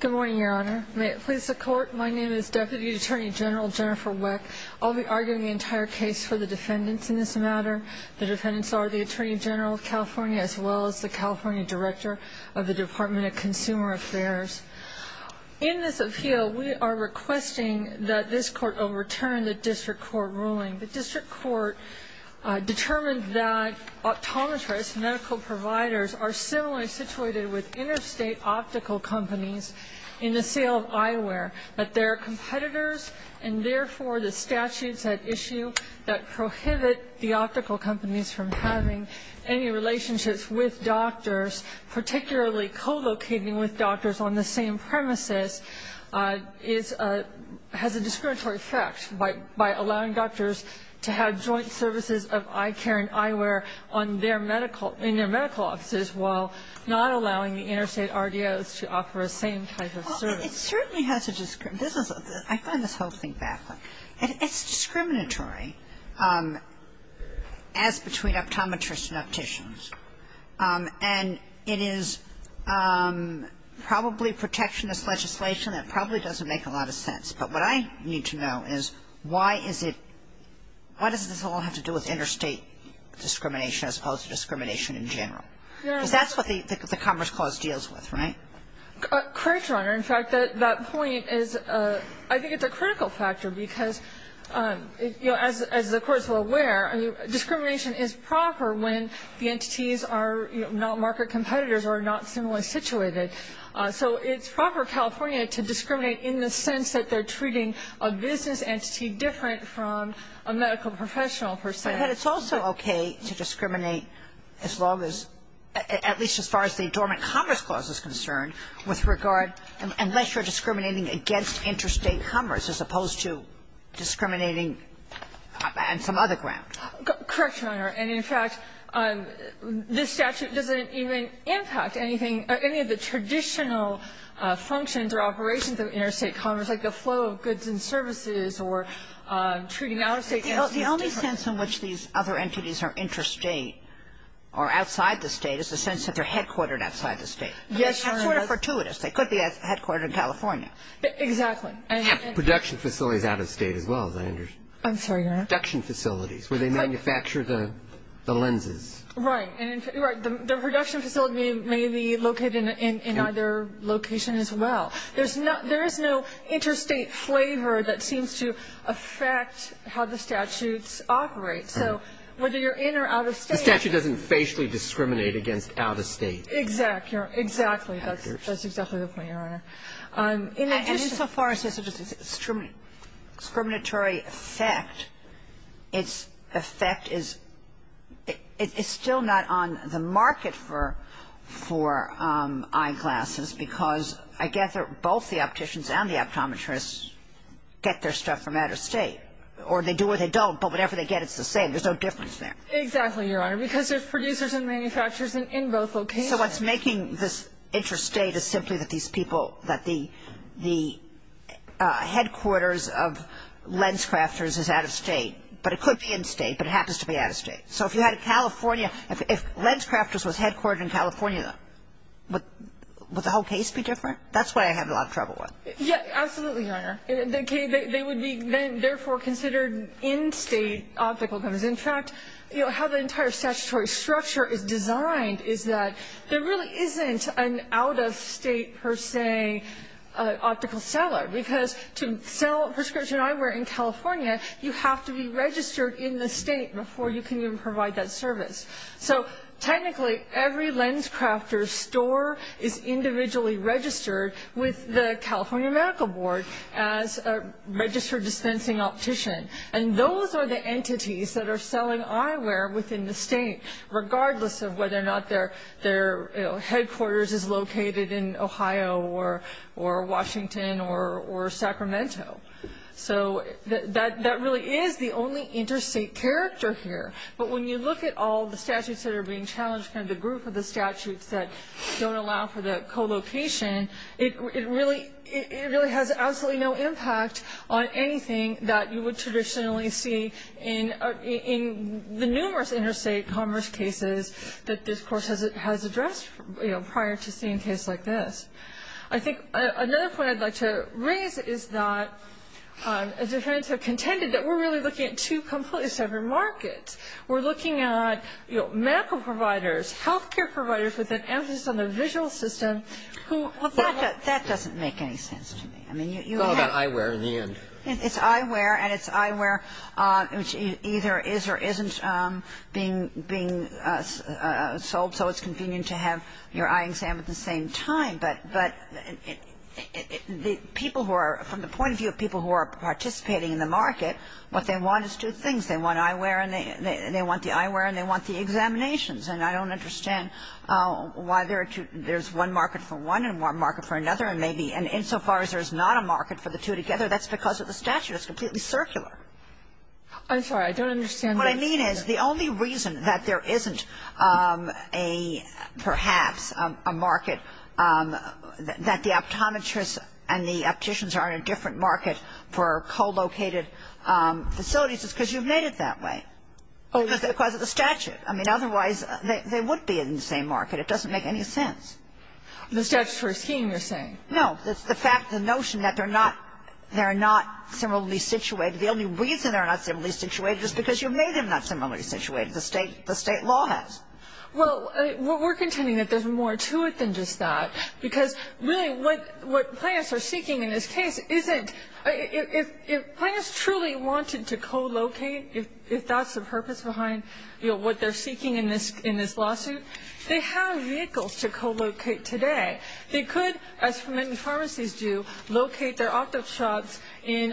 Good morning, Your Honor. May it please the Court, my name is Deputy Attorney General Jennifer Weck. I'll be arguing the entire case for the defendants in this matter. The defendants are the Attorney General of California as well as the California Director of the Department of Consumer Affairs. In this appeal, we are requesting that this Court overturn the District Court ruling. The District Court determined that optometrists, medical providers, are similarly situated with interstate optical companies in the sale of eyewear, but they're competitors and therefore the statutes at issue that prohibit the optical companies from having any relationships with doctors, particularly co-locating with doctors on the same premises, is a ‑‑ has a discriminatory effect by allowing doctors to have joint services of eye care and eyewear on their medical ‑‑ in their medical offices while not allowing the interstate RDOs to offer a same type of service. Well, it certainly has a ‑‑ I find this whole thing baffling. It's discriminatory as between optometrists and opticians. And it is probably protectionist legislation that probably doesn't make a lot of sense. But what I need to know is why is it ‑‑ why does this all have to do with interstate discrimination as opposed to discrimination in general? Because that's what the Commerce Clause deals with, right? Correct, Your Honor. In fact, that point is ‑‑ I think it's a critical factor because, you know, as the Court is well aware, discrimination is proper when the entities are, you know, not market competitors or not similarly situated. So it's proper California to discriminate in the sense that they're treating a business entity different from a medical professional per se. But it's also okay to discriminate as long as ‑‑ at least as far as the Dormant Commerce Clause is concerned with regard ‑‑ unless you're discriminating against interstate commerce as opposed to discriminating on some other ground. Correct, Your Honor. And, in fact, this statute doesn't even impact anything, any of the traditional functions or operations of interstate commerce, like the flow of goods and services or treating out of state entities differently. The only sense in which these other entities are interstate or outside the state is the sense that they're headquartered outside the state. Yes, Your Honor. That's sort of fortuitous. They could be headquartered in California. Exactly. Production facilities out of state as well, as I understand. I'm sorry, Your Honor. Production facilities where they manufacture the lenses. Right. Right. The production facility may be located in either location as well. There is no interstate flavor that seems to affect how the statutes operate. So whether you're in or out of state ‑‑ The statute doesn't facially discriminate against out of state. Exactly. That's exactly the point, Your Honor. And in so far as such a discriminatory effect, its effect is ‑‑ it's still not on the market for eyeglasses because, I guess, both the opticians and the optometrists get their stuff from out of state. Or they do or they don't, but whatever they get, it's the same. There's no difference there. Exactly, Your Honor, because there's producers and manufacturers in both locations. So what's making this interstate is simply that these people, that the headquarters of lens crafters is out of state. But it could be in state, but it happens to be out of state. So if you had a California ‑‑ if lens crafters was headquartered in California, would the whole case be different? That's why I have a lot of trouble with it. Yeah, absolutely, Your Honor. They would be then therefore considered in state optical companies. In fact, you know, how the entire statutory structure is designed is that there really isn't an out of state per se optical seller because to sell prescription eyewear in California, you have to be registered in the state before you can even provide that service. So technically, every lens crafter's store is individually registered with the California Medical Board as a registered dispensing optician. And those are the entities that are selling eyewear within the state, regardless of whether or not their headquarters is located in Ohio or Washington or Sacramento. So that really is the only interstate character here. But when you look at all the statutes that are being challenged, kind of the group of the statutes that don't allow for the co‑location, it really has absolutely no impact on anything that you would traditionally see in the numerous interstate commerce cases that this Court has addressed prior to seeing a case like this. I think another point I'd like to raise is that defendants have contended that we're really looking at two completely separate markets. We're looking at, you know, medical providers, health care providers with an emphasis on the visual system who... Well, that doesn't make any sense to me. It's all about eyewear in the end. It's eyewear, and it's eyewear which either is or isn't being sold, so it's convenient to have your eye examined at the same time. But the people who are, from the point of view of people who are participating in the market, what they want is two things. They want eyewear, and they want the eyewear, and they want the examinations. And I don't understand why there's one market for one and one market for another, and maybe insofar as there's not a market for the two together, that's because of the statute. It's completely circular. I'm sorry. I don't understand... And what I mean is the only reason that there isn't a, perhaps, a market that the optometrists and the opticians are in a different market for co-located facilities is because you've made it that way. Oh. Because of the statute. I mean, otherwise, they would be in the same market. It doesn't make any sense. The statutory scheme, you're saying? No, the fact, the notion that they're not similarly situated. The only reason they're not similarly situated is because you've made them not similarly situated. The state law has. Well, we're contending that there's more to it than just that, because really what clients are seeking in this case isn't... If clients truly wanted to co-locate, if that's the purpose behind, you know, what they're seeking in this lawsuit, they have vehicles to co-locate today. They could, as many pharmacies do, locate their optic shops in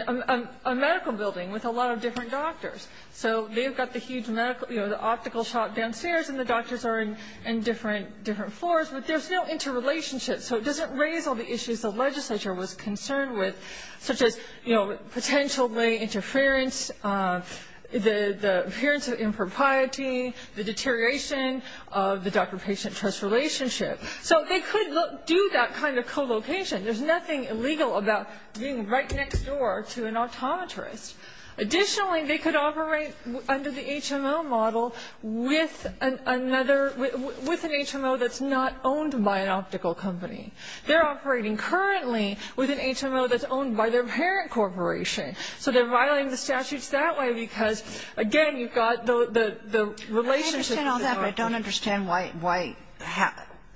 a medical building with a lot of different doctors. So they've got the huge medical, you know, the optical shop downstairs, and the doctors are in different floors, but there's no interrelationship. So it doesn't raise all the issues the legislature was concerned with, such as, you know, potentially interference, the appearance of impropriety, the deterioration of the doctor-patient trust relationship. So they could do that kind of co-location. There's nothing illegal about being right next door to an optometrist. Additionally, they could operate under the HMO model with another, with an HMO that's not owned by an optical company. They're operating currently with an HMO that's owned by their parent corporation. So they're violating the statutes that way because, again, you've got the relationship... I don't understand why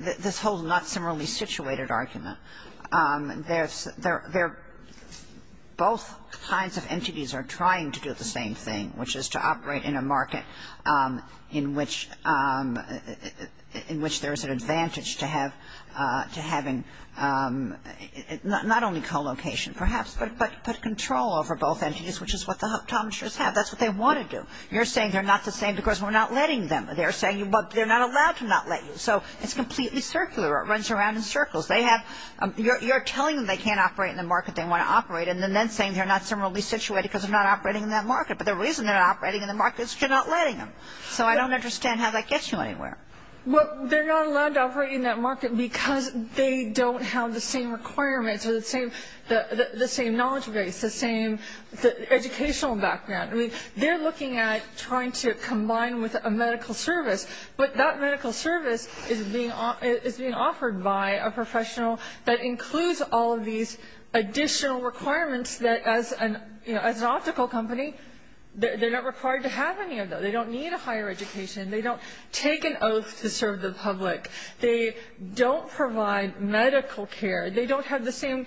this whole not-similarly-situated argument. Both kinds of entities are trying to do the same thing, which is to operate in a market in which there is an advantage to having not only co-location, perhaps, but control over both entities, which is what the optometrists have. That's what they want to do. You're saying they're not the same because we're not letting them. They're saying they're not allowed to not let you. So it's completely circular. It runs around in circles. You're telling them they can't operate in the market they want to operate in and then saying they're not similarly situated because they're not operating in that market. But the reason they're not operating in the market is because you're not letting them. So I don't understand how that gets you anywhere. Well, they're not allowed to operate in that market because they don't have the same requirements or the same knowledge base, the same educational background. I mean, they're looking at trying to combine with a medical service. But that medical service is being offered by a professional that includes all of these additional requirements that as an optical company, they're not required to have any of those. They don't need a higher education. They don't take an oath to serve the public. They don't provide medical care. They don't have the same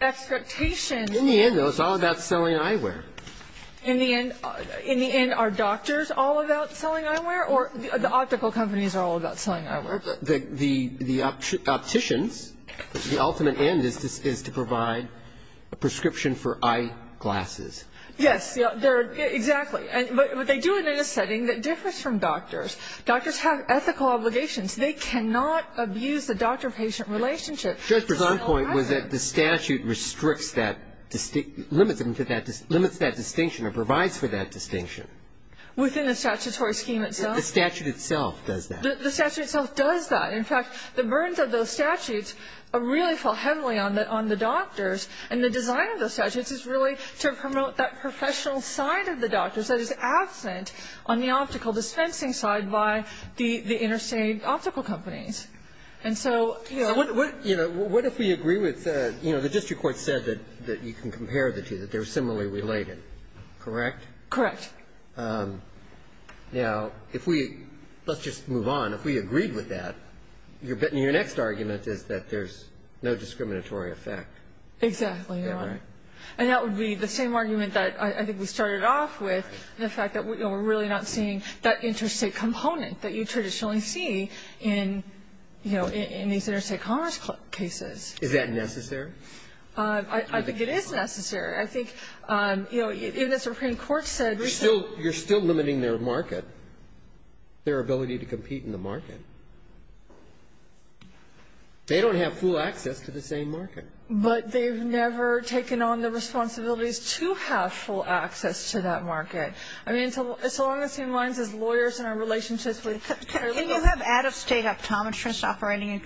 expectations. In the end, though, it's all about selling eyewear. In the end, are doctors all about selling eyewear or the optical companies are all about selling eyewear? The opticians, the ultimate end is to provide a prescription for eyeglasses. Yes. Exactly. But they do it in a setting that differs from doctors. Doctors have ethical obligations. They cannot abuse the doctor-patient relationship. Schuster's own point was that the statute restricts that, limits that distinction or provides for that distinction. Within the statutory scheme itself? The statute itself does that. The statute itself does that. In fact, the burdens of those statutes really fall heavily on the doctors. And the design of those statutes is really to promote that professional side of the doctors that is absent on the optical dispensing side by the interstate optical companies. And so, you know. What if we agree with, you know, the district court said that you can compare the two, that they're similarly related. Correct? Correct. Now, if we, let's just move on. If we agreed with that, your next argument is that there's no discriminatory effect. Exactly, Your Honor. And that would be the same argument that I think we started off with, the fact that we're really not seeing that interstate component that you traditionally see in, you know, in these interstate commerce cases. Is that necessary? I think it is necessary. I think, you know, even the Supreme Court said. You're still limiting their market, their ability to compete in the market. They don't have full access to the same market. But they've never taken on the responsibilities to have full access to that market. Right. I mean, so long as he aligns his lawyers and our relationships with paralegal. Can you have out-of-state optometrists operating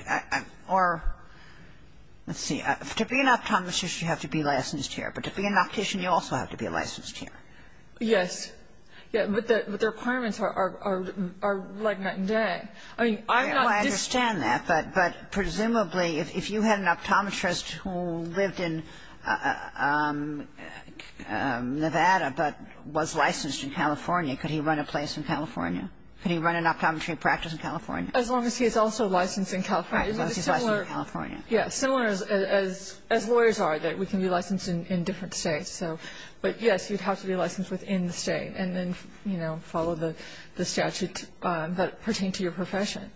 or, let's see. To be an optometrist, you have to be licensed here. But to be an optician, you also have to be licensed here. Yes. Yeah. But their requirements are like night and day. I mean, I'm not dis- I understand that. But presumably, if you had an optometrist who lived in Nevada but was licensed in California, could he run a place in California? Could he run an optometry practice in California? As long as he's also licensed in California. Right. As long as he's licensed in California. Yeah. Similar as lawyers are, that we can be licensed in different states. So, but, yes, you'd have to be licensed within the state and then, you know, follow the statute that pertained to your profession.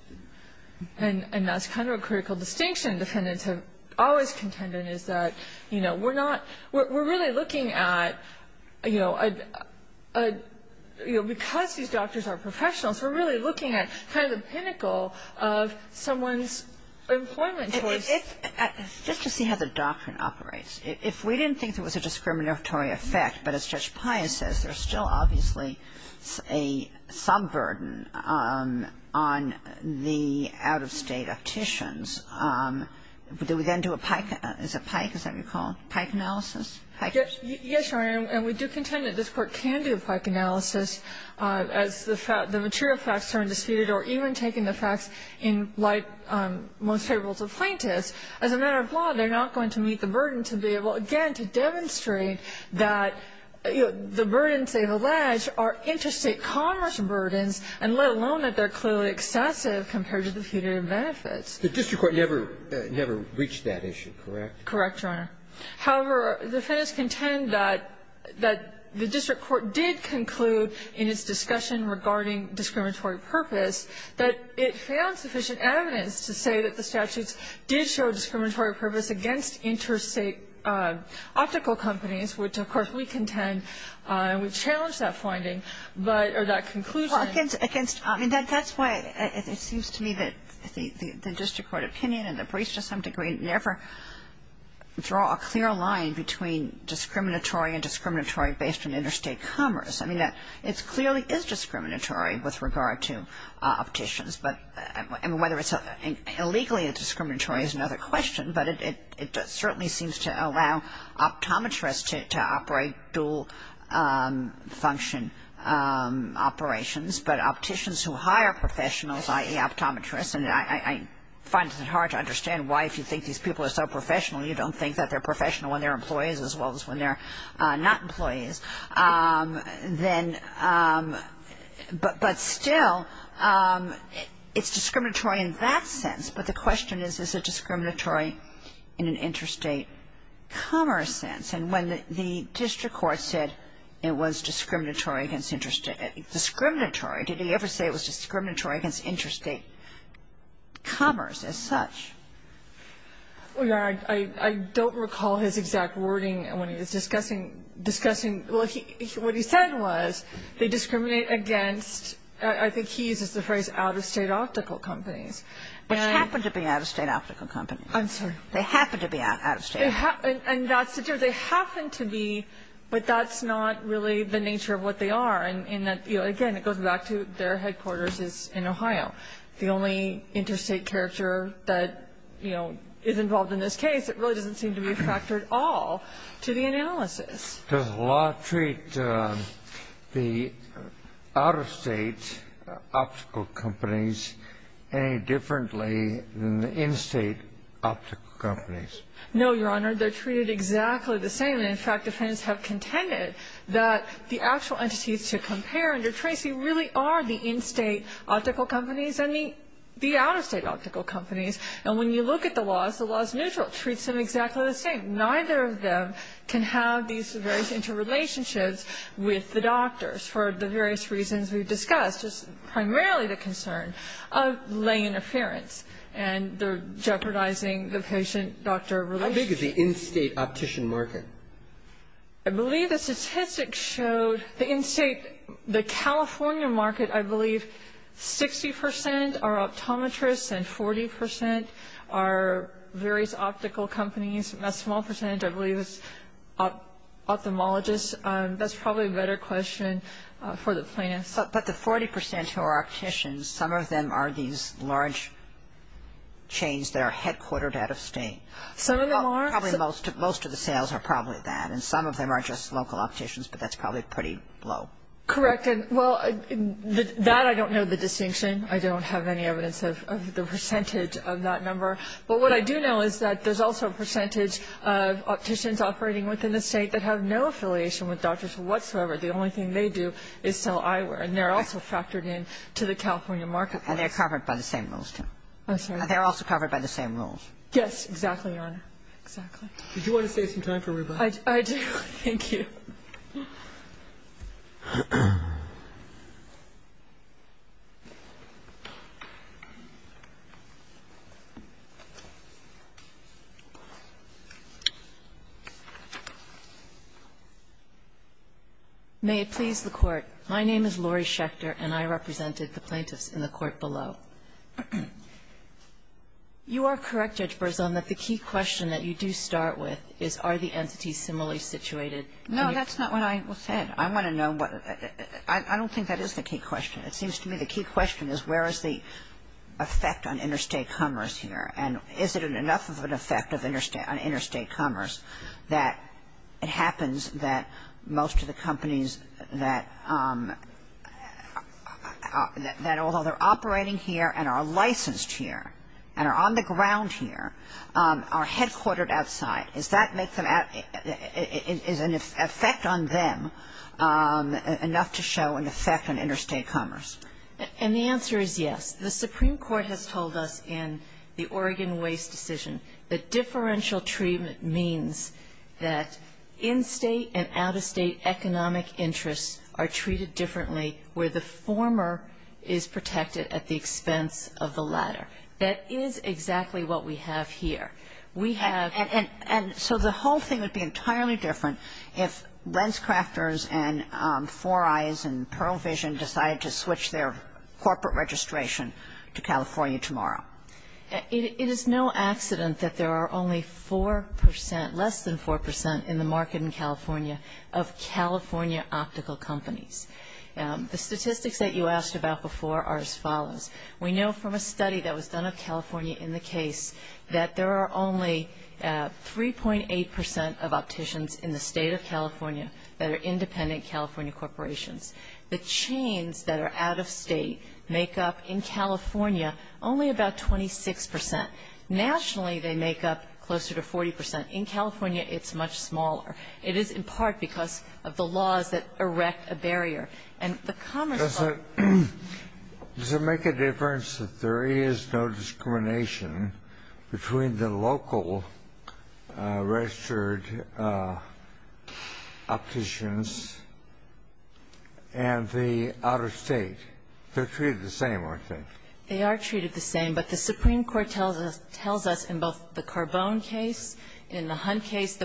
And that's kind of a critical distinction defendants have always contended is that, you know, we're not, we're really looking at, you know, because these doctors are professionals, we're really looking at kind of the pinnacle of someone's employment choice. Just to see how the doctrine operates. If we didn't think there was a discriminatory effect, but as Judge Pius says, there's still obviously a sub-burden on the out-of-state opticians. Do we then do a PIKE? Is it PIKE? Is that what you call it? PIKE analysis? Yes, Your Honor, and we do contend that this Court can do a PIKE analysis as the material facts are undisputed, or even taking the facts in light most favorable to plaintiffs. As a matter of law, they're not going to meet the burden to be able, again, to demonstrate that the burdens they've alleged are interstate commerce burdens and let alone that they're clearly excessive compared to the punitive benefits. The district court never reached that issue, correct? Correct, Your Honor. However, defendants contend that the district court did conclude in its discussion regarding discriminatory purpose that it found sufficient evidence to say that the optical companies, which, of course, we contend and we challenge that finding, or that conclusion. Against, I mean, that's why it seems to me that the district court opinion and the briefs to some degree never draw a clear line between discriminatory and discriminatory based on interstate commerce. I mean, it clearly is discriminatory with regard to opticians, but whether it's illegally discriminatory is another question, but it certainly seems to allow optometrists to operate dual function operations. But opticians who hire professionals, i.e., optometrists, and I find it hard to understand why if you think these people are so professional you don't think that they're professional when they're employees as well as when they're not employees. But still, it's discriminatory in that sense, but the question is, is it discriminatory in an interstate commerce sense? And when the district court said it was discriminatory against interstate ‑‑ discriminatory, did he ever say it was discriminatory against interstate commerce as such? I don't recall his exact wording when he was discussing ‑‑ discussing, well, what he said was they discriminate against, I think he uses the phrase out-of-state optical companies. But they happen to be out-of-state optical companies. I'm sorry. They happen to be out-of-state. And that's the difference. They happen to be, but that's not really the nature of what they are in that, again, it goes back to their headquarters in Ohio. The only interstate character that, you know, is involved in this case, it really doesn't seem to be a factor at all to the analysis. Does the law treat the out-of-state optical companies any differently than the in-state optical companies? No, Your Honor. They're treated exactly the same. And, in fact, defendants have contended that the actual entities to compare under Tracy really are the in-state optical companies and the out-of-state optical companies. And when you look at the laws, the law is neutral. It treats them exactly the same. Neither of them can have these various interrelationships with the doctors for the various reasons we've discussed. It's primarily the concern of lay interference. And they're jeopardizing the patient-doctor relationship. How big is the in-state optician market? I believe the statistics showed the in-state, the California market, I believe, 60% are optometrists and 40% are various optical companies. A small percentage, I believe, is ophthalmologists. That's probably a better question for the plaintiffs. But the 40% who are opticians, some of them are these large chains that are headquartered out of state. Some of them are. Probably most of the sales are probably that. And some of them are just local opticians, but that's probably pretty low. Correct. Well, that I don't know the distinction. I don't have any evidence of the percentage of that number. But what I do know is that there's also a percentage of opticians operating within the state that have no affiliation with doctors whatsoever. The only thing they do is sell eyewear, and they're also factored into the California marketplace. And they're covered by the same rules, too. I'm sorry? They're also covered by the same rules. Yes, exactly, Your Honor. Exactly. Did you want to save some time for rebuttal? I do. Thank you. May it please the Court. My name is Lori Schechter, and I represented the plaintiffs in the court below. You are correct, Judge Berzon, that the key question that you do start with is are the entities similarly situated? No, that's not what I said. I want to know what the ‑‑ I don't think that is the key question. It seems to me the key question is where is the effect on interstate commerce here, and is it enough of an effect on interstate commerce that it happens that most of the companies that although they're operating here and are licensed here and are on the ground here are headquartered outside? Does that make them ‑‑ is an effect on them enough to show an effect on interstate commerce? And the answer is yes. The Supreme Court has told us in the Oregon Waste Decision that differential treatment means that in‑state and out‑of‑state economic interests are treated differently where the former is protected at the expense of the latter. That is exactly what we have here. We have ‑‑ And so the whole thing would be entirely different if LensCrafters and 4Eyes and Pearl Vision decided to switch their corporate registration to California Tomorrow. It is no accident that there are only 4 percent, less than 4 percent in the market in California of California optical companies. The statistics that you asked about before are as follows. We know from a study that was done of California in the case that there are only 3.8 percent of opticians in the state of California that are independent California corporations. The chains that are out‑of‑state make up in California only about 26 percent. Nationally, they make up closer to 40 percent. In California, it's much smaller. It is in part because of the laws that erect a barrier. Does it make a difference that there is no discrimination between the local registered opticians and the out‑of‑state? They're treated the same, aren't they? They are treated the same. But the Supreme Court tells us in both the Carbone case, in the Hunt case, the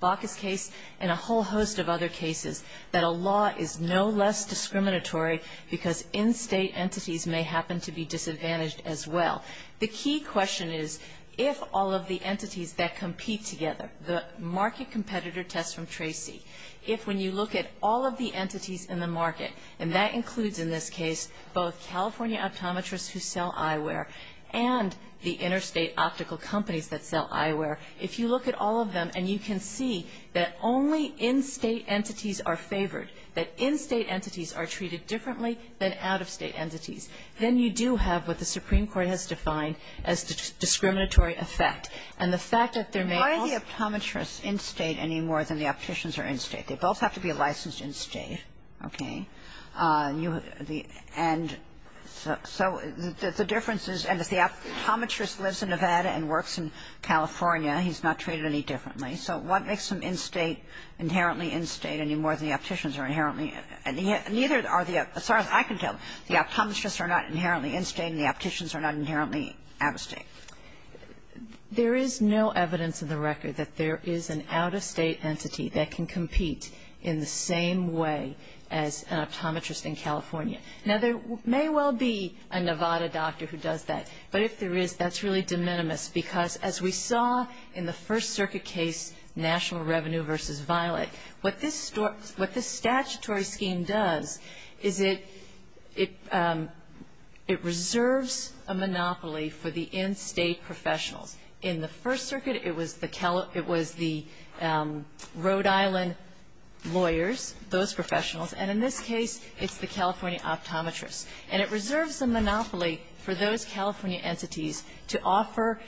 Bacchus case, and a whole host of other cases that a law is no less discriminatory because in‑state entities may happen to be disadvantaged as well. The key question is if all of the entities that compete together, the market competitor test from Tracy, if when you look at all of the entities in the market, and that includes in this case both California optometrists who sell eyewear and the interstate optical companies that sell eyewear, if you look at all of them and you can see that only in‑state entities are favored, that in‑state entities are treated differently than out‑of‑state entities, then you do have what the Supreme Court has defined as discriminatory effect. And the fact that there may also ‑‑ Why are the optometrists in‑state any more than the opticians are in‑state? They both have to be licensed in‑state. Okay? And so the difference is, and if the optometrist lives in Nevada and works in California, he's not treated any differently. So what makes them in‑state, inherently in‑state, any more than the opticians are inherently ‑‑ neither are the ‑‑ as far as I can tell, the optometrists are not inherently in‑state and the opticians are not inherently out‑of‑state. There is no evidence in the record that there is an out‑of‑state entity that can compete in the same way as an optometrist in California. Now, there may well be a Nevada doctor who does that, but if there is, that's really de minimis, because as we saw in the First Circuit case, National Revenue v. Violet, what this statutory scheme does is it reserves a monopoly for the in‑state professionals. In the First Circuit, it was the Rhode Island lawyers, those professionals. And in this case, it's the California optometrists. And it reserves a monopoly for those California entities to offer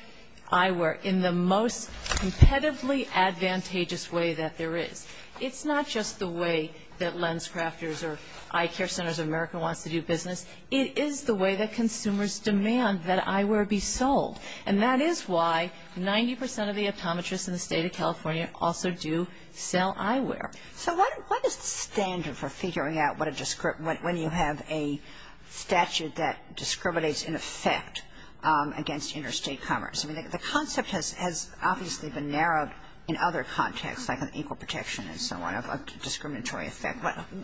eyewear in the most competitively advantageous way that there is. It's not just the way that LensCrafters or Eye Care Centers of America wants to do business. It is the way that consumers demand that eyewear be sold. And that is why 90% of the optometrists in the state of California also do sell eyewear. So what is the standard for figuring out when you have a statute that discriminates in effect against interstate commerce? I mean, the concept has obviously been narrowed in other contexts, like an equal protection and so on, of a discriminatory effect.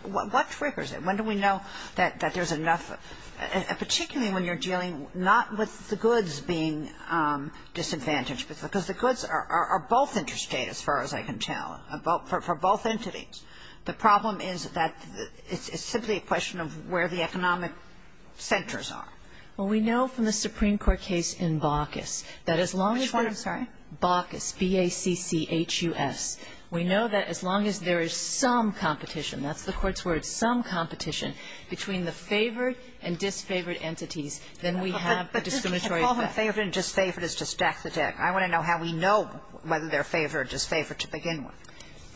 What triggers it? When do we know that there's enough, particularly when you're dealing not with the goods being disadvantaged? Because the goods are both interstate, as far as I can tell, for both entities. The problem is that it's simply a question of where the economic centers are. Well, we know from the Supreme Court case in Baucus that as long as the ‑‑ Which one, I'm sorry? Baucus, B-A-U-C-U-S. We know that as long as there is some competition, that's the Court's word, some competition, between the favored and disfavored entities, then we have a discriminatory effect. But we don't call them favored and disfavored just to stack the deck. I want to know how we know whether they're favored or disfavored to begin with.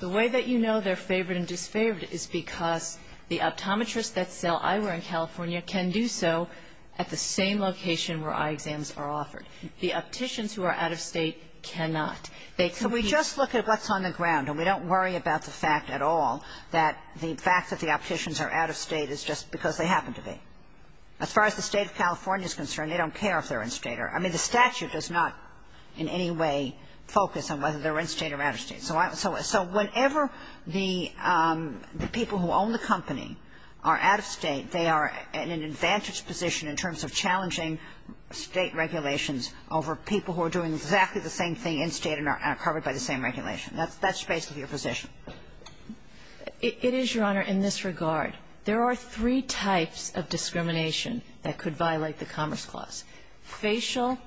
The way that you know they're favored and disfavored is because the optometrists that sell eyewear in California can do so at the same location where eye exams are offered. The opticians who are out of State cannot. They can be ‑‑ So we just look at what's on the ground, and we don't worry about the fact at all that the fact that the opticians are out of State is just because they happen to be. As far as the State of California is concerned, they don't care if they're in State or ‑‑ I mean, the statute does not in any way focus on whether they're in State or out of State. So whenever the people who own the company are out of State, they are in an advantaged position in terms of challenging State regulations over people who are doing exactly the same thing in State and are covered by the same regulation. That's basically your position. It is, Your Honor, in this regard. There are three types of discrimination that could violate the Commerce Clause, facial,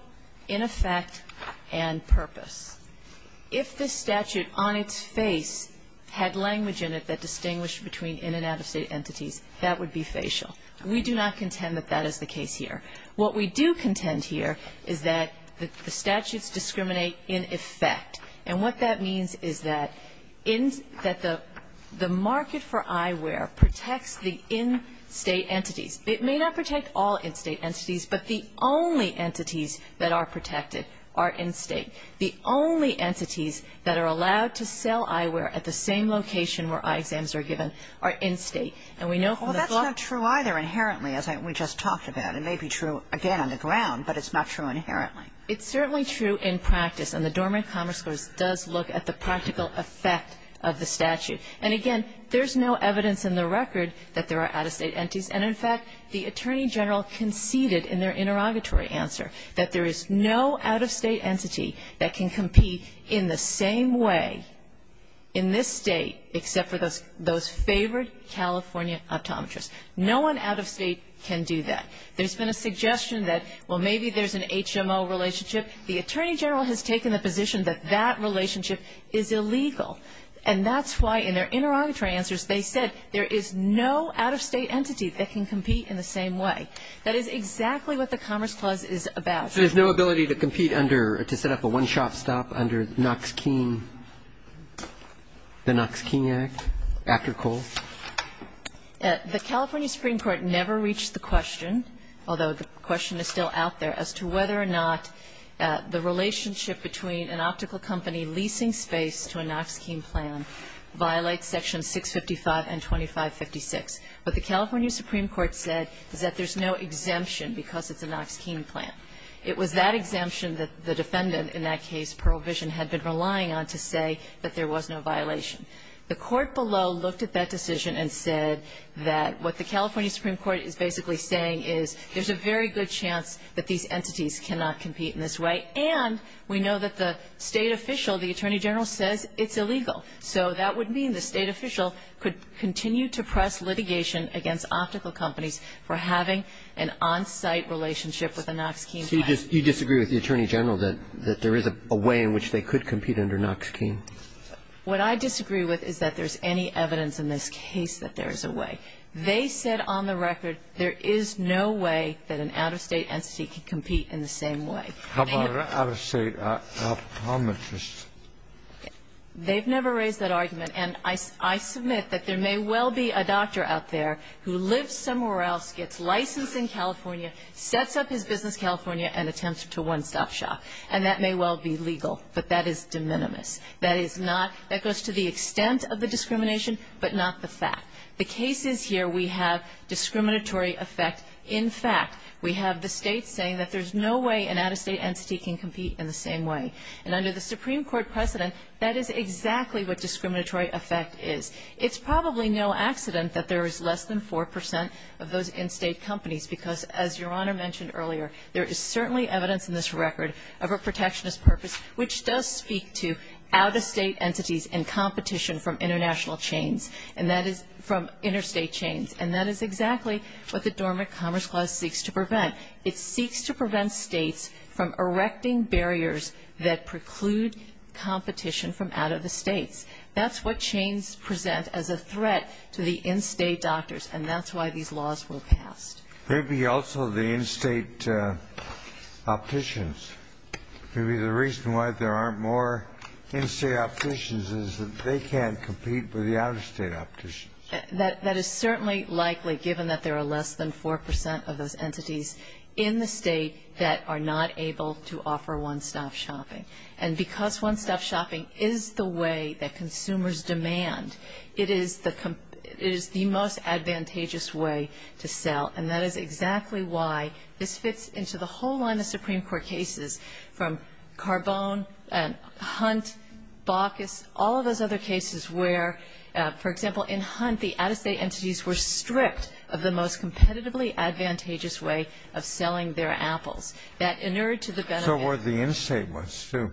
in effect, and purpose. If the statute on its face had language in it that distinguished between in and out of State entities, that would be facial. We do not contend that that is the case here. What we do contend here is that the statutes discriminate in effect. And what that means is that the market for eyewear protects the in‑State entities. It may not protect all in‑State entities, but the only entities that are protected are in State. The only entities that are allowed to sell eyewear at the same location where eye exams are given are in State. And we know from the ‑‑ Well, that's not true either, inherently, as we just talked about. It may be true, again, on the ground, but it's not true inherently. It's certainly true in practice, and the Dormant Commerce Clause does look at the practical effect of the statute. And, again, there's no evidence in the record that there are out-of-State entities. And, in fact, the Attorney General conceded in their interrogatory answer that there is no out-of-State entity that can compete in the same way in this State except for those favored California optometrists. No one out of State can do that. There's been a suggestion that, well, maybe there's an HMO relationship. The Attorney General has taken the position that that relationship is illegal. And that's why, in their interrogatory answers, they said there is no out-of-State entity that can compete in the same way. That is exactly what the Commerce Clause is about. So there's no ability to compete under ‑‑ to set up a one-shop stop under Knox Keene, the Knox Keene Act, after Cole? The California Supreme Court never reached the question, although the question is still out there, as to whether or not the relationship between an optical company leasing space to a Knox Keene plan violates Section 655 and 2556. What the California Supreme Court said is that there's no exemption because it's a Knox Keene plan. It was that exemption that the defendant in that case, Pearl Vision, had been relying on to say that there was no violation. The court below looked at that decision and said that what the California Supreme Court is basically saying is there's a very good chance that these entities cannot compete in this way. And we know that the State official, the Attorney General, says it's illegal. So that would mean the State official could continue to press litigation against optical companies for having an on-site relationship with a Knox Keene plan. So you disagree with the Attorney General that there is a way in which they could compete under Knox Keene? What I disagree with is that there's any evidence in this case that there is a way. They said on the record there is no way that an out-of-State entity could compete in the same way. How about an out-of-State optometrist? They've never raised that argument. And I submit that there may well be a doctor out there who lives somewhere else, gets licensed in California, sets up his business in California, and attempts to one-stop shop. And that may well be legal, but that is de minimis. That is not. That goes to the extent of the discrimination, but not the fact. The case is here we have discriminatory effect in fact. We have the State saying that there's no way an out-of-State entity can compete in the same way. And under the Supreme Court precedent, that is exactly what discriminatory effect is. It's probably no accident that there is less than 4 percent of those in-State companies because, as Your Honor mentioned earlier, there is certainly evidence in this record of a protectionist purpose, which does speak to out-of-State entities and competition from international chains, and that is from interstate chains. And that is exactly what the Dormant Commerce Clause seeks to prevent. It seeks to prevent States from erecting barriers that preclude competition from out-of-the-States. That's what chains present as a threat to the in-State doctors, and that's why these laws were passed. Maybe also the in-State opticians. Maybe the reason why there aren't more in-State opticians is that they can't compete with the out-of-State opticians. That is certainly likely, given that there are less than 4 percent of those entities in the State that are not able to offer one-stop shopping. And because one-stop shopping is the way that consumers demand, it is the most advantageous way to sell. And that is exactly why this fits into the whole line of Supreme Court cases from Carbone and Hunt, Baucus, all of those other cases where, for example, in Hunt, the out-of-State entities were strict of the most competitively advantageous way of selling their apples. That inured to the gun event. So were the in-State ones, too.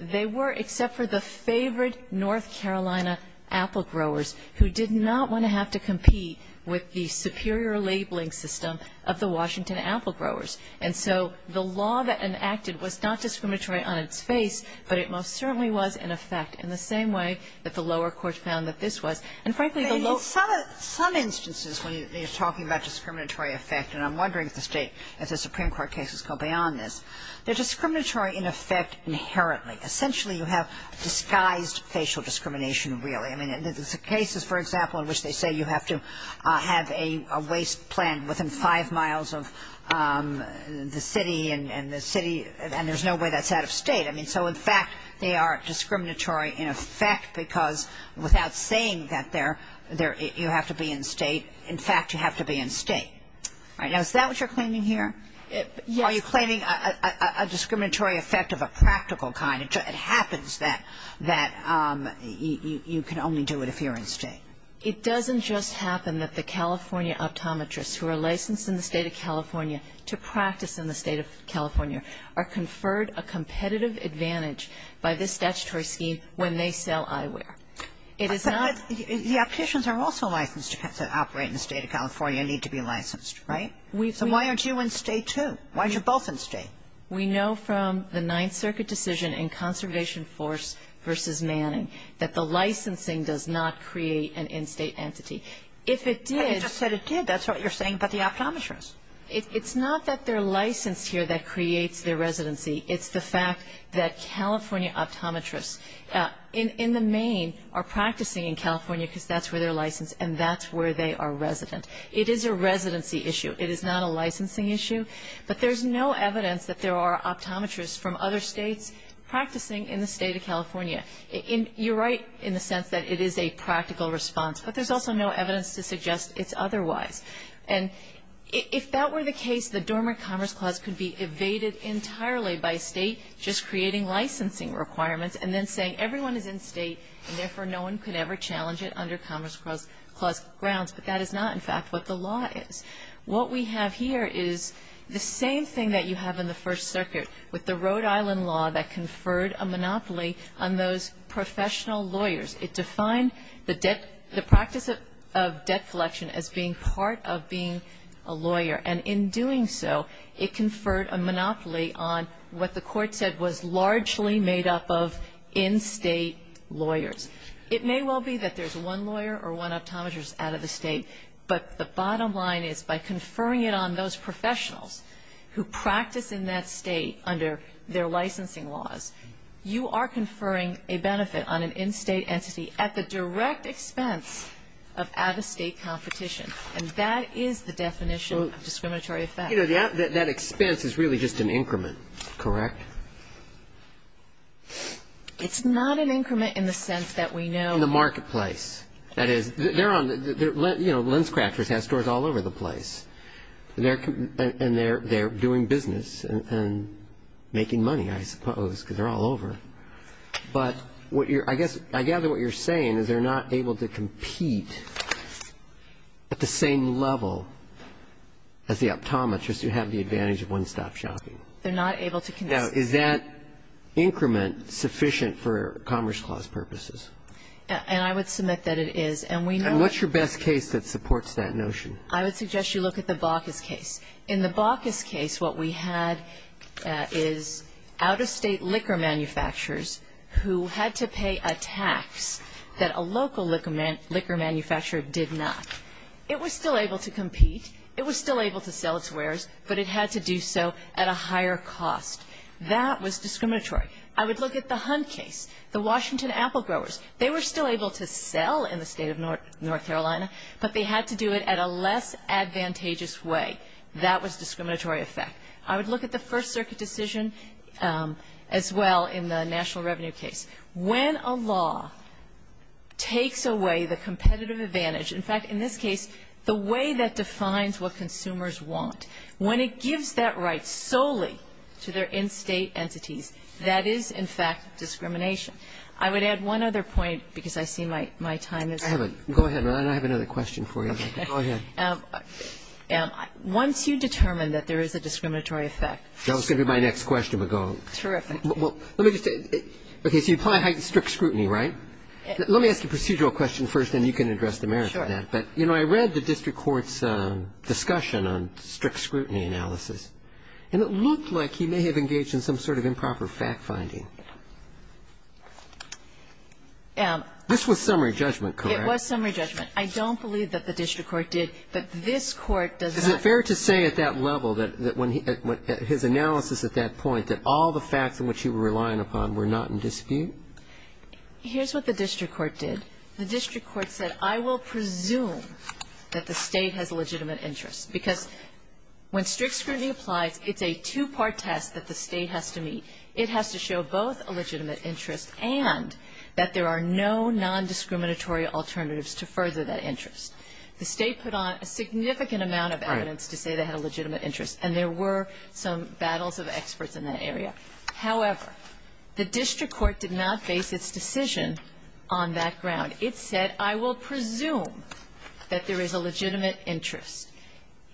They were, except for the favorite North Carolina apple growers, who did not want to have to compete with the superior labeling system of the Washington apple growers. And so the law that enacted was not discriminatory on its face, but it most certainly was in effect in the same way that the lower court found that this was. And frankly, the low ---- And in some instances when you're talking about discriminatory effect, and I'm wondering if the State, if the Supreme Court cases go beyond this, they're discriminatory in effect inherently. Essentially, you have disguised facial discrimination, really. I mean, the cases, for example, in which they say you have to have a waste plant within five miles of the city and the city, and there's no way that's out-of-State. I mean, so in fact, they are discriminatory in effect because without saying that you have to be in-State, in fact, you have to be in-State. Now, is that what you're claiming here? Yes. Are you claiming a discriminatory effect of a practical kind? It happens that you can only do it if you're in-State. It doesn't just happen that the California optometrists who are licensed in the State of California to practice in the State of California are conferred a competitive advantage by this statutory scheme when they sell eyewear. It is not ---- But the opticians are also licensed to operate in the State of California and need to be licensed, right? So why aren't you in-State, too? Why aren't you both in-State? We know from the Ninth Circuit decision in Conservation Force v. Manning that the licensing does not create an in-State entity. If it did ---- But you just said it did. That's what you're saying about the optometrists. It's not that they're licensed here that creates their residency. It's the fact that California optometrists in the main are practicing in California because that's where they're licensed and that's where they are resident. It is a residency issue. It is not a licensing issue. But there's no evidence that there are optometrists from other States practicing in the State of California. You're right in the sense that it is a practical response, but there's also no evidence to suggest it's otherwise. And if that were the case, the Dormant Commerce Clause could be evaded entirely by State just creating licensing requirements and then saying everyone is in-State and, therefore, no one could ever challenge it under Commerce Clause grounds. But that is not, in fact, what the law is. What we have here is the same thing that you have in the First Circuit with the Rhode Island law that conferred a monopoly on those professional lawyers. It defined the practice of debt collection as being part of being a lawyer. And in doing so, it conferred a monopoly on what the Court said was largely made up of in-State lawyers. It may well be that there's one lawyer or one optometrist out of the State, but the bottom line is by conferring it on those professionals who practice in that State under their licensing laws, you are conferring a benefit on an in-State entity at the direct expense of out-of-State competition. And that is the definition of discriminatory effect. That expense is really just an increment, correct? It's not an increment in the sense that we know. In the marketplace. That is, they're on the, you know, LensCrafters has stores all over the place. And they're doing business and making money, I suppose, because they're all over. But what you're, I guess, I gather what you're saying is they're not able to compete at the same level as the optometrists who have the advantage of one-stop shopping. They're not able to compete. Now, is that increment sufficient for Commerce Clause purposes? And I would submit that it is. And we know. And what's your best case that supports that notion? I would suggest you look at the Baucus case. In the Baucus case, what we had is out-of-State liquor manufacturers who had to pay a tax that a local liquor manufacturer did not. It was still able to compete. It was still able to sell its wares, but it had to do so at a higher cost. That was discriminatory. I would look at the Hunt case, the Washington apple growers. They were still able to sell in the State of North Carolina, but they had to do it at a less advantageous way. That was a discriminatory effect. I would look at the First Circuit decision as well in the national revenue case. When a law takes away the competitive advantage, in fact, in this case, the way that defines what consumers want, when it gives that right solely to their in-State entities, that is, in fact, discrimination. I would add one other point, because I see my time is up. Go ahead. I have another question for you. Go ahead. Once you determine that there is a discriminatory effect. That was going to be my next question. Terrific. Let me just say, okay, so you apply strict scrutiny, right? Sure. But, you know, I read the district court's discussion on strict scrutiny analysis, and it looked like he may have engaged in some sort of improper fact-finding. This was summary judgment, correct? It was summary judgment. I don't believe that the district court did, but this Court does not. Is it fair to say at that level, that when his analysis at that point, that all the facts in which he was relying upon were not in dispute? Here's what the district court did. The district court said, I will presume that the State has a legitimate interest, because when strict scrutiny applies, it's a two-part test that the State has to meet. It has to show both a legitimate interest and that there are no nondiscriminatory alternatives to further that interest. The State put on a significant amount of evidence to say they had a legitimate interest, and there were some battles of experts in that area. However, the district court did not base its decision on that ground. It said, I will presume that there is a legitimate interest.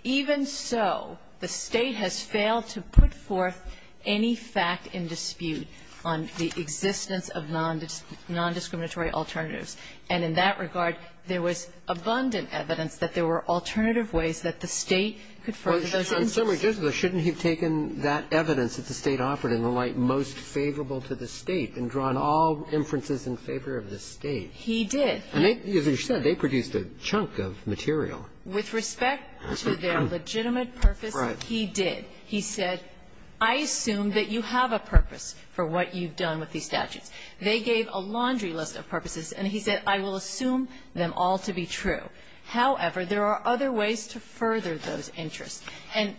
Even so, the State has failed to put forth any fact in dispute on the existence of nondiscriminatory alternatives. And in that regard, there was abundant evidence that there were alternative ways that the State could further those interests. Roberts, in summary, shouldn't he have taken that evidence that the State offered in the light most favorable to the State and drawn all inferences in favor of the State? He did. And as you said, they produced a chunk of material. With respect to their legitimate purpose, he did. He said, I assume that you have a purpose for what you've done with these statutes. They gave a laundry list of purposes, and he said, I will assume them all to be true. However, there are other ways to further those interests. And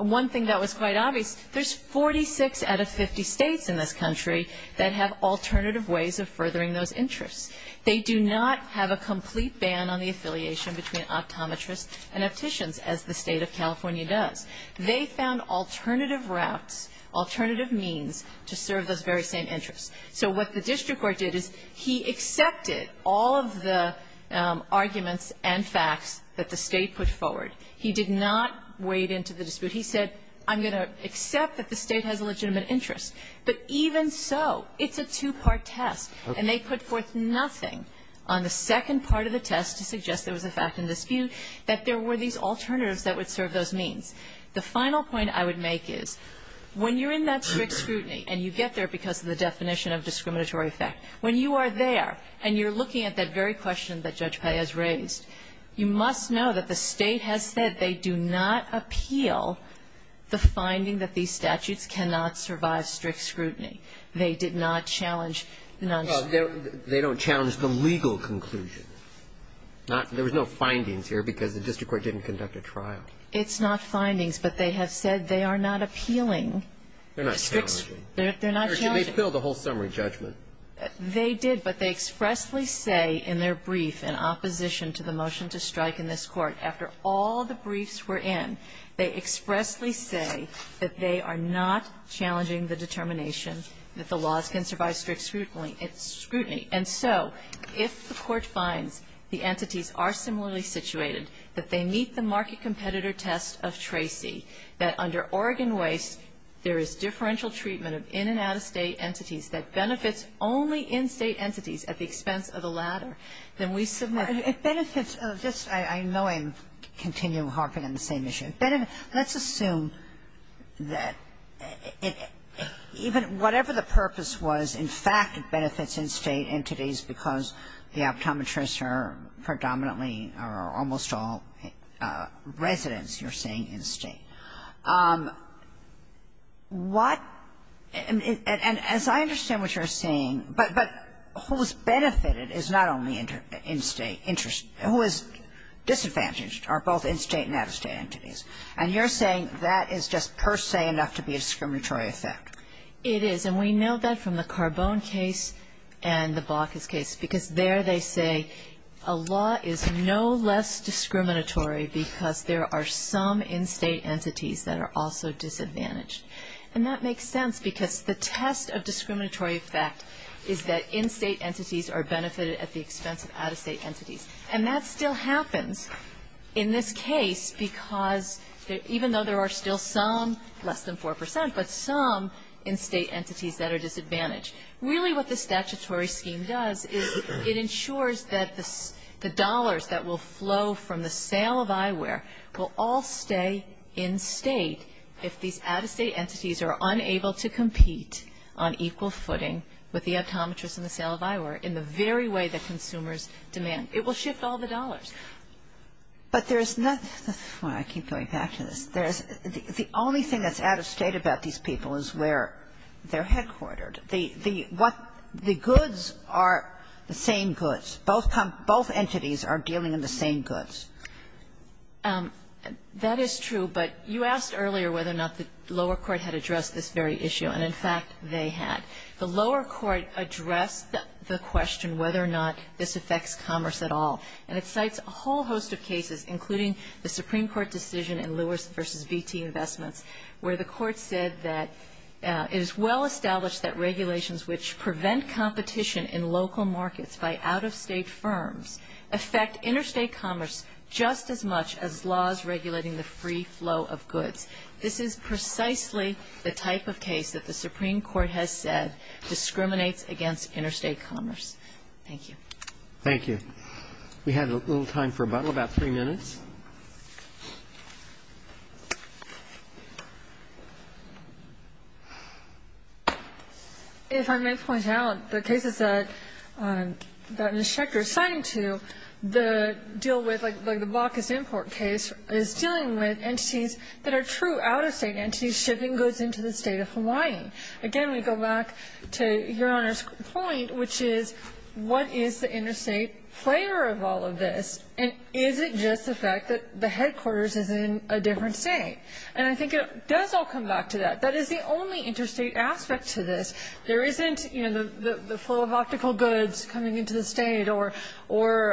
one thing that was quite obvious, there's 46 out of 50 States in this country that have alternative ways of furthering those interests. They do not have a complete ban on the affiliation between optometrists and opticians, as the State of California does. They found alternative routes, alternative means to serve those very same interests. So what the district court did is he accepted all of the arguments and facts that the State put forward. He did not wade into the dispute. He said, I'm going to accept that the State has a legitimate interest. But even so, it's a two-part test. And they put forth nothing on the second part of the test to suggest there was a fact in dispute that there were these alternatives that would serve those means. The final point I would make is, when you're in that strict scrutiny and you get there because of the definition of discriminatory effect, when you are there and you're looking at that very question that Judge Paez raised, you must know that the State has said they do not appeal the finding that these statutes cannot survive strict scrutiny. They did not challenge the non-strict. They don't challenge the legal conclusions. There was no findings here because the district court didn't conduct a trial. It's not findings, but they have said they are not appealing. They're not challenging. They're not challenging. Roberts. They appealed the whole summary judgment. They did, but they expressly say in their brief in opposition to the motion to strike in this Court, after all the briefs were in, they expressly say that they are not challenging the determination that the laws can survive strict scrutiny. And so if the Court finds the entities are similarly situated, that they meet the market treatment of in and out-of-State entities that benefits only in-State entities at the expense of the latter, then we submit. Kagan. It benefits of this. I know I'm continuing to harp on the same issue. Let's assume that even whatever the purpose was, in fact it benefits in-State entities because the optometrists are predominantly or almost all residents, you're saying, in-State. What – and as I understand what you're saying, but who is benefited is not only in-State – who is disadvantaged are both in-State and out-of-State entities. And you're saying that is just per se enough to be a discriminatory effect. It is. And we know that from the Carbone case and the Baucus case, because there they say a law is no less discriminatory because there are some in-State entities that are also disadvantaged. And that makes sense because the test of discriminatory effect is that in-State entities are benefited at the expense of out-of-State entities. And that still happens in this case because even though there are still some, less than 4 percent, but some in-State entities that are disadvantaged. Really what the statutory scheme does is it ensures that the dollars that will flow from the sale of eyewear will all stay in-State if these out-of-State entities are unable to compete on equal footing with the optometrists in the sale of eyewear in the very way that consumers demand. It will shift all the dollars. But there's not – I keep going back to this. The only thing that's out-of-State about these people is where they're headquartered. The goods are the same goods. Both entities are dealing in the same goods. That is true. But you asked earlier whether or not the lower court had addressed this very issue, and, in fact, they had. The lower court addressed the question whether or not this affects commerce at all, and it cites a whole host of cases, including the Supreme Court decision in Lewis v. VT Investments, where the Court said that it is well established that regulations which prevent competition in local markets by out-of-State firms affect interstate commerce just as much as laws regulating the free flow of goods. This is precisely the type of case that the Supreme Court has said discriminates against interstate commerce. Thank you. Thank you. We have a little time for rebuttal, about three minutes. If I may point out, the cases that Ms. Schechter is citing to, the deal with, like the block is import case, is dealing with entities that are true out-of-State entities, shipping goods into the State of Hawaii. Again, we go back to Your Honor's point, which is, what is the interstate player of all of this, and is it just the fact that the State of Hawaii is the state? Or is it just the fact that the headquarters is in a different state? And I think it does all come back to that. That is the only interstate aspect to this. There isn't, you know, the flow of optical goods coming into the state, or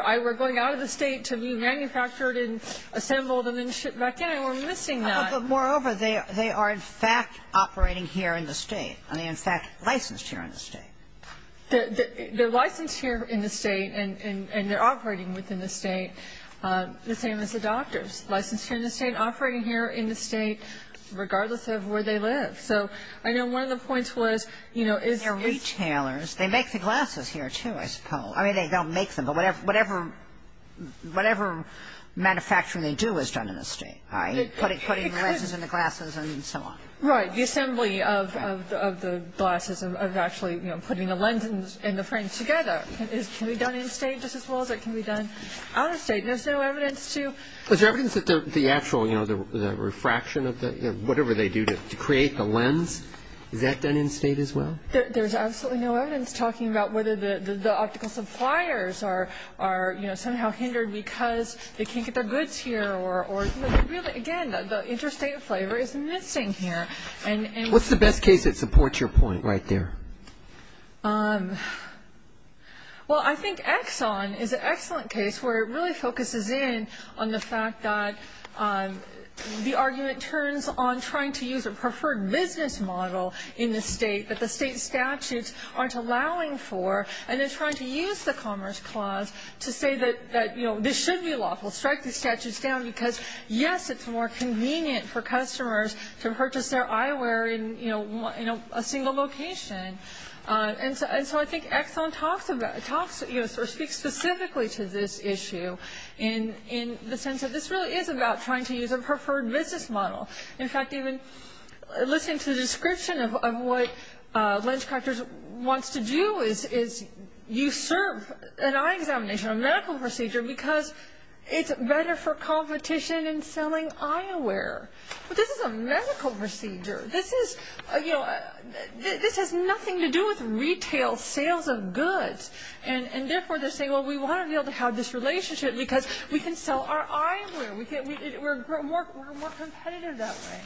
I were going out of the state to be manufactured and assembled and then shipped back in, and we're missing that. But moreover, they are in fact operating here in the state, and they're in fact licensed here in the state. The license here in the state, and they're operating within the state, the same as the doctors. Licensed here in the state, operating here in the state, regardless of where they live. So I know one of the points was, you know, is this the case? They're retailers. They make the glasses here, too, I suppose. I mean, they don't make them, but whatever manufacturing they do is done in the state, right? Putting the glasses in the glasses and so on. Right. The assembly of the glasses, of actually, you know, putting the lens and the frame together, can be done in state just as well as it can be done out of state. And there's no evidence to. Is there evidence that the actual, you know, the refraction of the, whatever they do to create the lens, is that done in state as well? There's absolutely no evidence talking about whether the optical suppliers are, you know, somehow hindered because they can't get their goods here, or really, again, the interstate flavor is missing here. What's the best case that supports your point right there? Well, I think Exxon is an excellent case where it really focuses in on the fact that the argument turns on trying to use a preferred business model in the state that the state statutes aren't allowing for, and then trying to use the Commerce Clause to say that, you know, this should be lawful. Strike the statutes down because, yes, it's more convenient for customers to purchase their eyewear in, you know, a single location. And so I think Exxon talks, you know, speaks specifically to this issue in the sense that this really is about trying to use a preferred business model. In fact, even listening to the description of what LensCrafters wants to do is usurp an eye examination, a medical procedure, because it's better for competition in selling eyewear. But this is a medical procedure. This is, you know, this has nothing to do with retail sales of goods, and therefore they're saying, well, we want to be able to have this relationship because we can sell our eyewear. We're more competitive that way.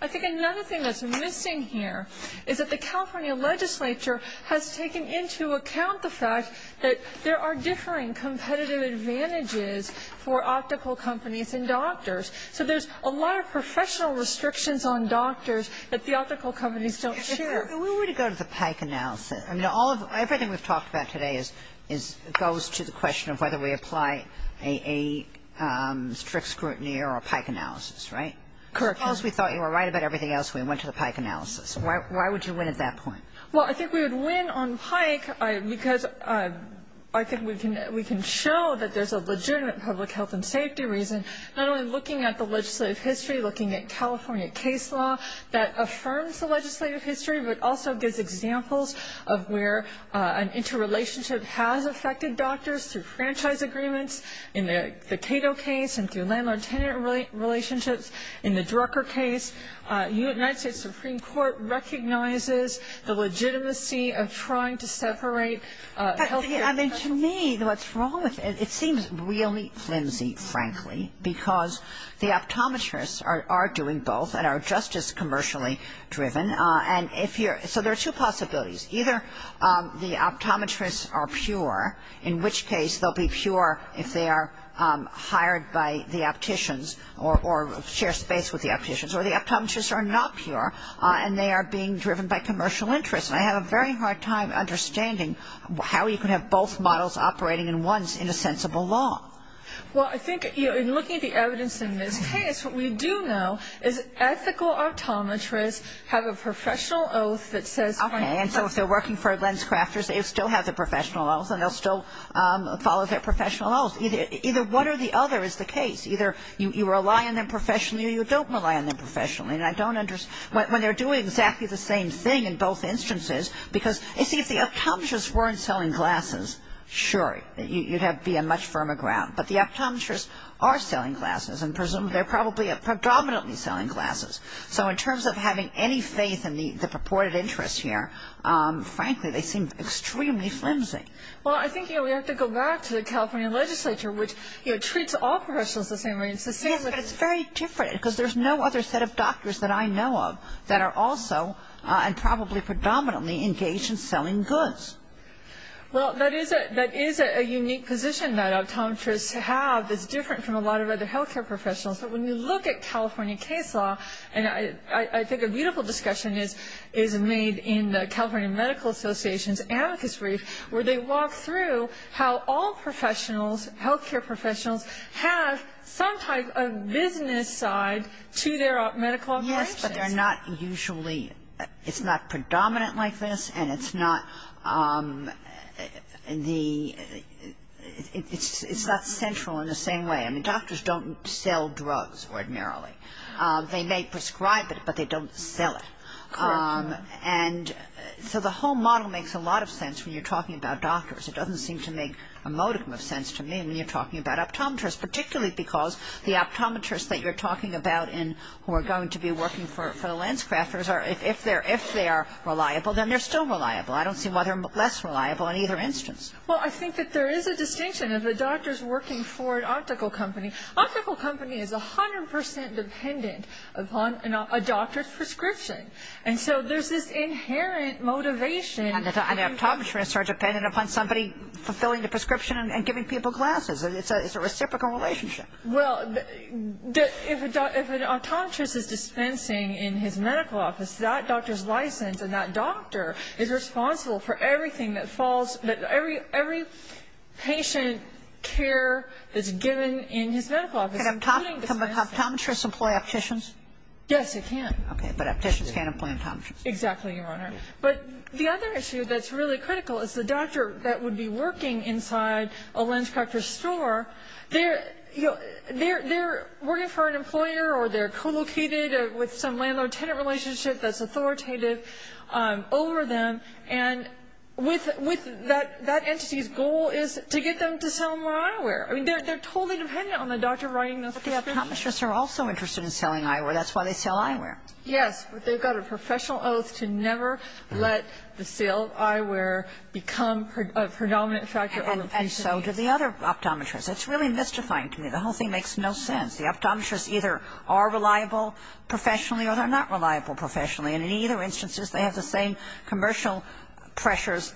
I think another thing that's missing here is that the California legislature has taken into account the fact that there are differing competitive advantages for optical companies and doctors. So there's a lot of professional restrictions on doctors that the optical companies don't share. Kagan. If we were to go to the Pike analysis, I mean, everything we've talked about today is goes to the question of whether we apply a strict scrutiny or a Pike analysis, right? Correct. Suppose we thought you were right about everything else, we went to the Pike analysis. Why would you win at that point? Well, I think we would win on Pike because I think we can show that there's a legitimate public health and safety reason, not only looking at the legislative history, looking at California case law that affirms the legislative history, but also gives examples of where an interrelationship has affected doctors through franchise agreements in the Cato case and through landlord-tenant relationships. In the Drucker case, the United States Supreme Court recognizes the legitimacy of trying to separate healthcare professionals. But, I mean, to me, what's wrong with it, it seems really flimsy, frankly, because the optometrists are doing both and are just as commercially driven. And if you're so there are two possibilities. Either the optometrists are pure, in which case they'll be pure if they are hired by the opticians or share space with the opticians. Or the optometrists are not pure and they are being driven by commercial interests. And I have a very hard time understanding how you can have both models operating at once in a sensible law. Well, I think in looking at the evidence in this case, what we do know is ethical optometrists have a professional oath that says. Okay, and so if they're working for lens crafters, they still have their professional oath and they'll still follow their professional oath. Either one or the other is the case. Either you rely on them professionally or you don't rely on them professionally. And I don't understand. When they're doing exactly the same thing in both instances, because, you see, if the optometrists weren't selling glasses, sure, you'd have to be on much firmer ground. But the optometrists are selling glasses and they're probably predominantly selling glasses. So in terms of having any faith in the purported interest here, frankly, they seem extremely flimsy. Well, I think, you know, we have to go back to the California legislature, which treats all professionals the same way. Yes, but it's very different because there's no other set of doctors that I know of that are also and probably predominantly engaged in selling goods. Well, that is a unique position that optometrists have that's different from a lot of other health care professionals. But when you look at California case law, and I think a beautiful discussion is made in the California Medical Association's amicus brief, where they walk through how all professionals, health care professionals, have some type of business side to their medical operations. Yes, but they're not usually ‑‑ it's not predominant like this and it's not the ‑‑ it's not central in the same way. I mean, doctors don't sell drugs ordinarily. They may prescribe it, but they don't sell it. Correct. And so the whole model makes a lot of sense when you're talking about doctors. It doesn't seem to make a modicum of sense to me when you're talking about optometrists, particularly because the optometrists that you're talking about and who are going to be working for the landscrafters, if they're reliable, then they're still reliable. I don't see why they're less reliable in either instance. Well, I think that there is a distinction of the doctors working for an optical company. Optical company is 100% dependent upon a doctor's prescription. And so there's this inherent motivation. And optometrists are dependent upon somebody fulfilling the prescription and giving people glasses. It's a reciprocal relationship. Well, if an optometrist is dispensing in his medical office, that doctor's license and that doctor is responsible for everything that falls ‑‑ every patient care that's given in his medical office. Can optometrists employ opticians? Yes, they can. Okay, but opticians can't employ optometrists. Exactly, Your Honor. But the other issue that's really critical is the doctor that would be working inside a landscrafter's store, they're working for an employer or they're co‑located with some landlord‑tenant relationship that's authoritative over them. And with that entity's goal is to get them to sell more eyewear. I mean, they're totally dependent on the doctor writing those prescriptions. But the optometrists are also interested in selling eyewear. That's why they sell eyewear. Yes, but they've got a professional oath to never let the sale of eyewear become a predominant factor. And so do the other optometrists. It's really mystifying to me. The whole thing makes no sense. The optometrists either are reliable professionally or they're not reliable professionally. And in either instances, they have the same commercial pressures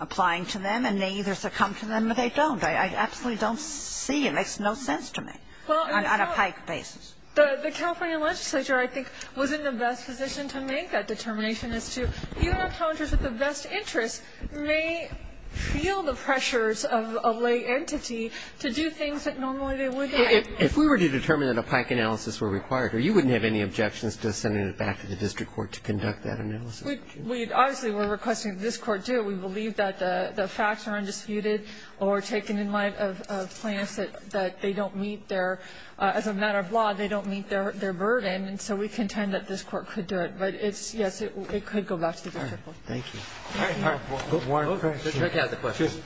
applying to them, and they either succumb to them or they don't. I absolutely don't see it. It makes no sense to me on a PIKE basis. The California legislature, I think, was in the best position to make that determination as to even optometrists with the best interests may feel the pressures of a lay entity to do things that normally they wouldn't. If we were to determine that a PIKE analysis were required, you wouldn't have any objections to sending it back to the district court to conduct that analysis, would you? Obviously, we're requesting that this Court do it. We believe that the facts are undisputed or taken in light of plans that they don't meet their – as a matter of law, they don't meet their burden. And so we contend that this Court could do it. But it's – yes, it could go back to the district court. Thank you. One question. Just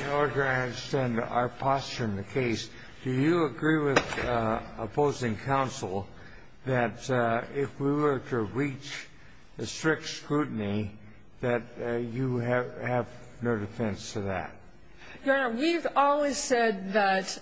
in order to understand our posture in the case, do you agree with opposing counsel that if we were to reach a strict scrutiny that you have no defense to that? Your Honor, we've always said that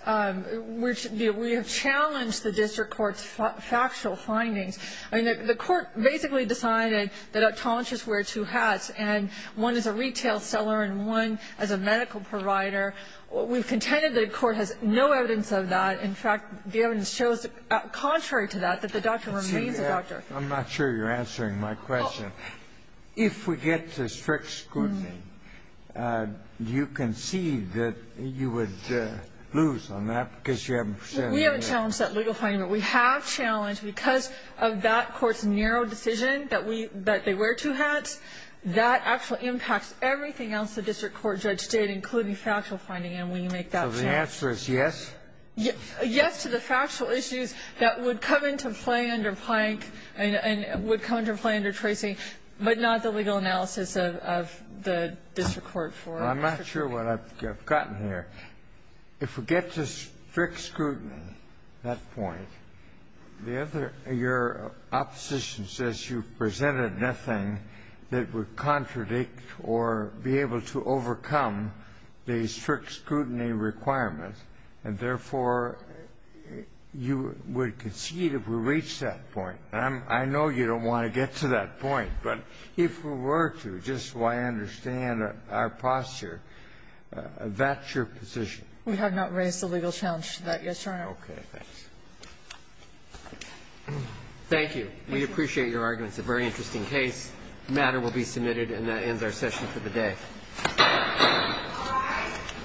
we have challenged the district court's factual findings. I mean, the court basically decided that optometrists wear two hats, and one is a retail seller and one is a medical provider. We've contended that the court has no evidence of that. In fact, the evidence shows, contrary to that, that the doctor remains a doctor. I'm not sure you're answering my question. If we get to strict scrutiny, do you concede that you would lose on that because you haven't said anything? We haven't challenged that legal finding, but we have challenged because of that court's narrow decision that we – that they wear two hats, that actually impacts everything else the district court judge did, including factual finding, and we make that challenge. So the answer is yes? Yes to the factual issues that would come into play under Plank and would come into play under Tracy, but not the legal analysis of the district court for it. Well, I'm not sure what I've gotten here. If we get to strict scrutiny at that point, the other – your opposition says you've presented nothing that would contradict or be able to overcome the strict scrutiny requirements, and therefore, you would concede if we reach that point. And I know you don't want to get to that point, but if we were to, just so I understand our posture, that's your position? We have not raised a legal challenge to that yet, Your Honor. Okay. Thanks. Thank you. We appreciate your argument. It's a very interesting case. The matter will be submitted, and that ends our session for the day. Thank you.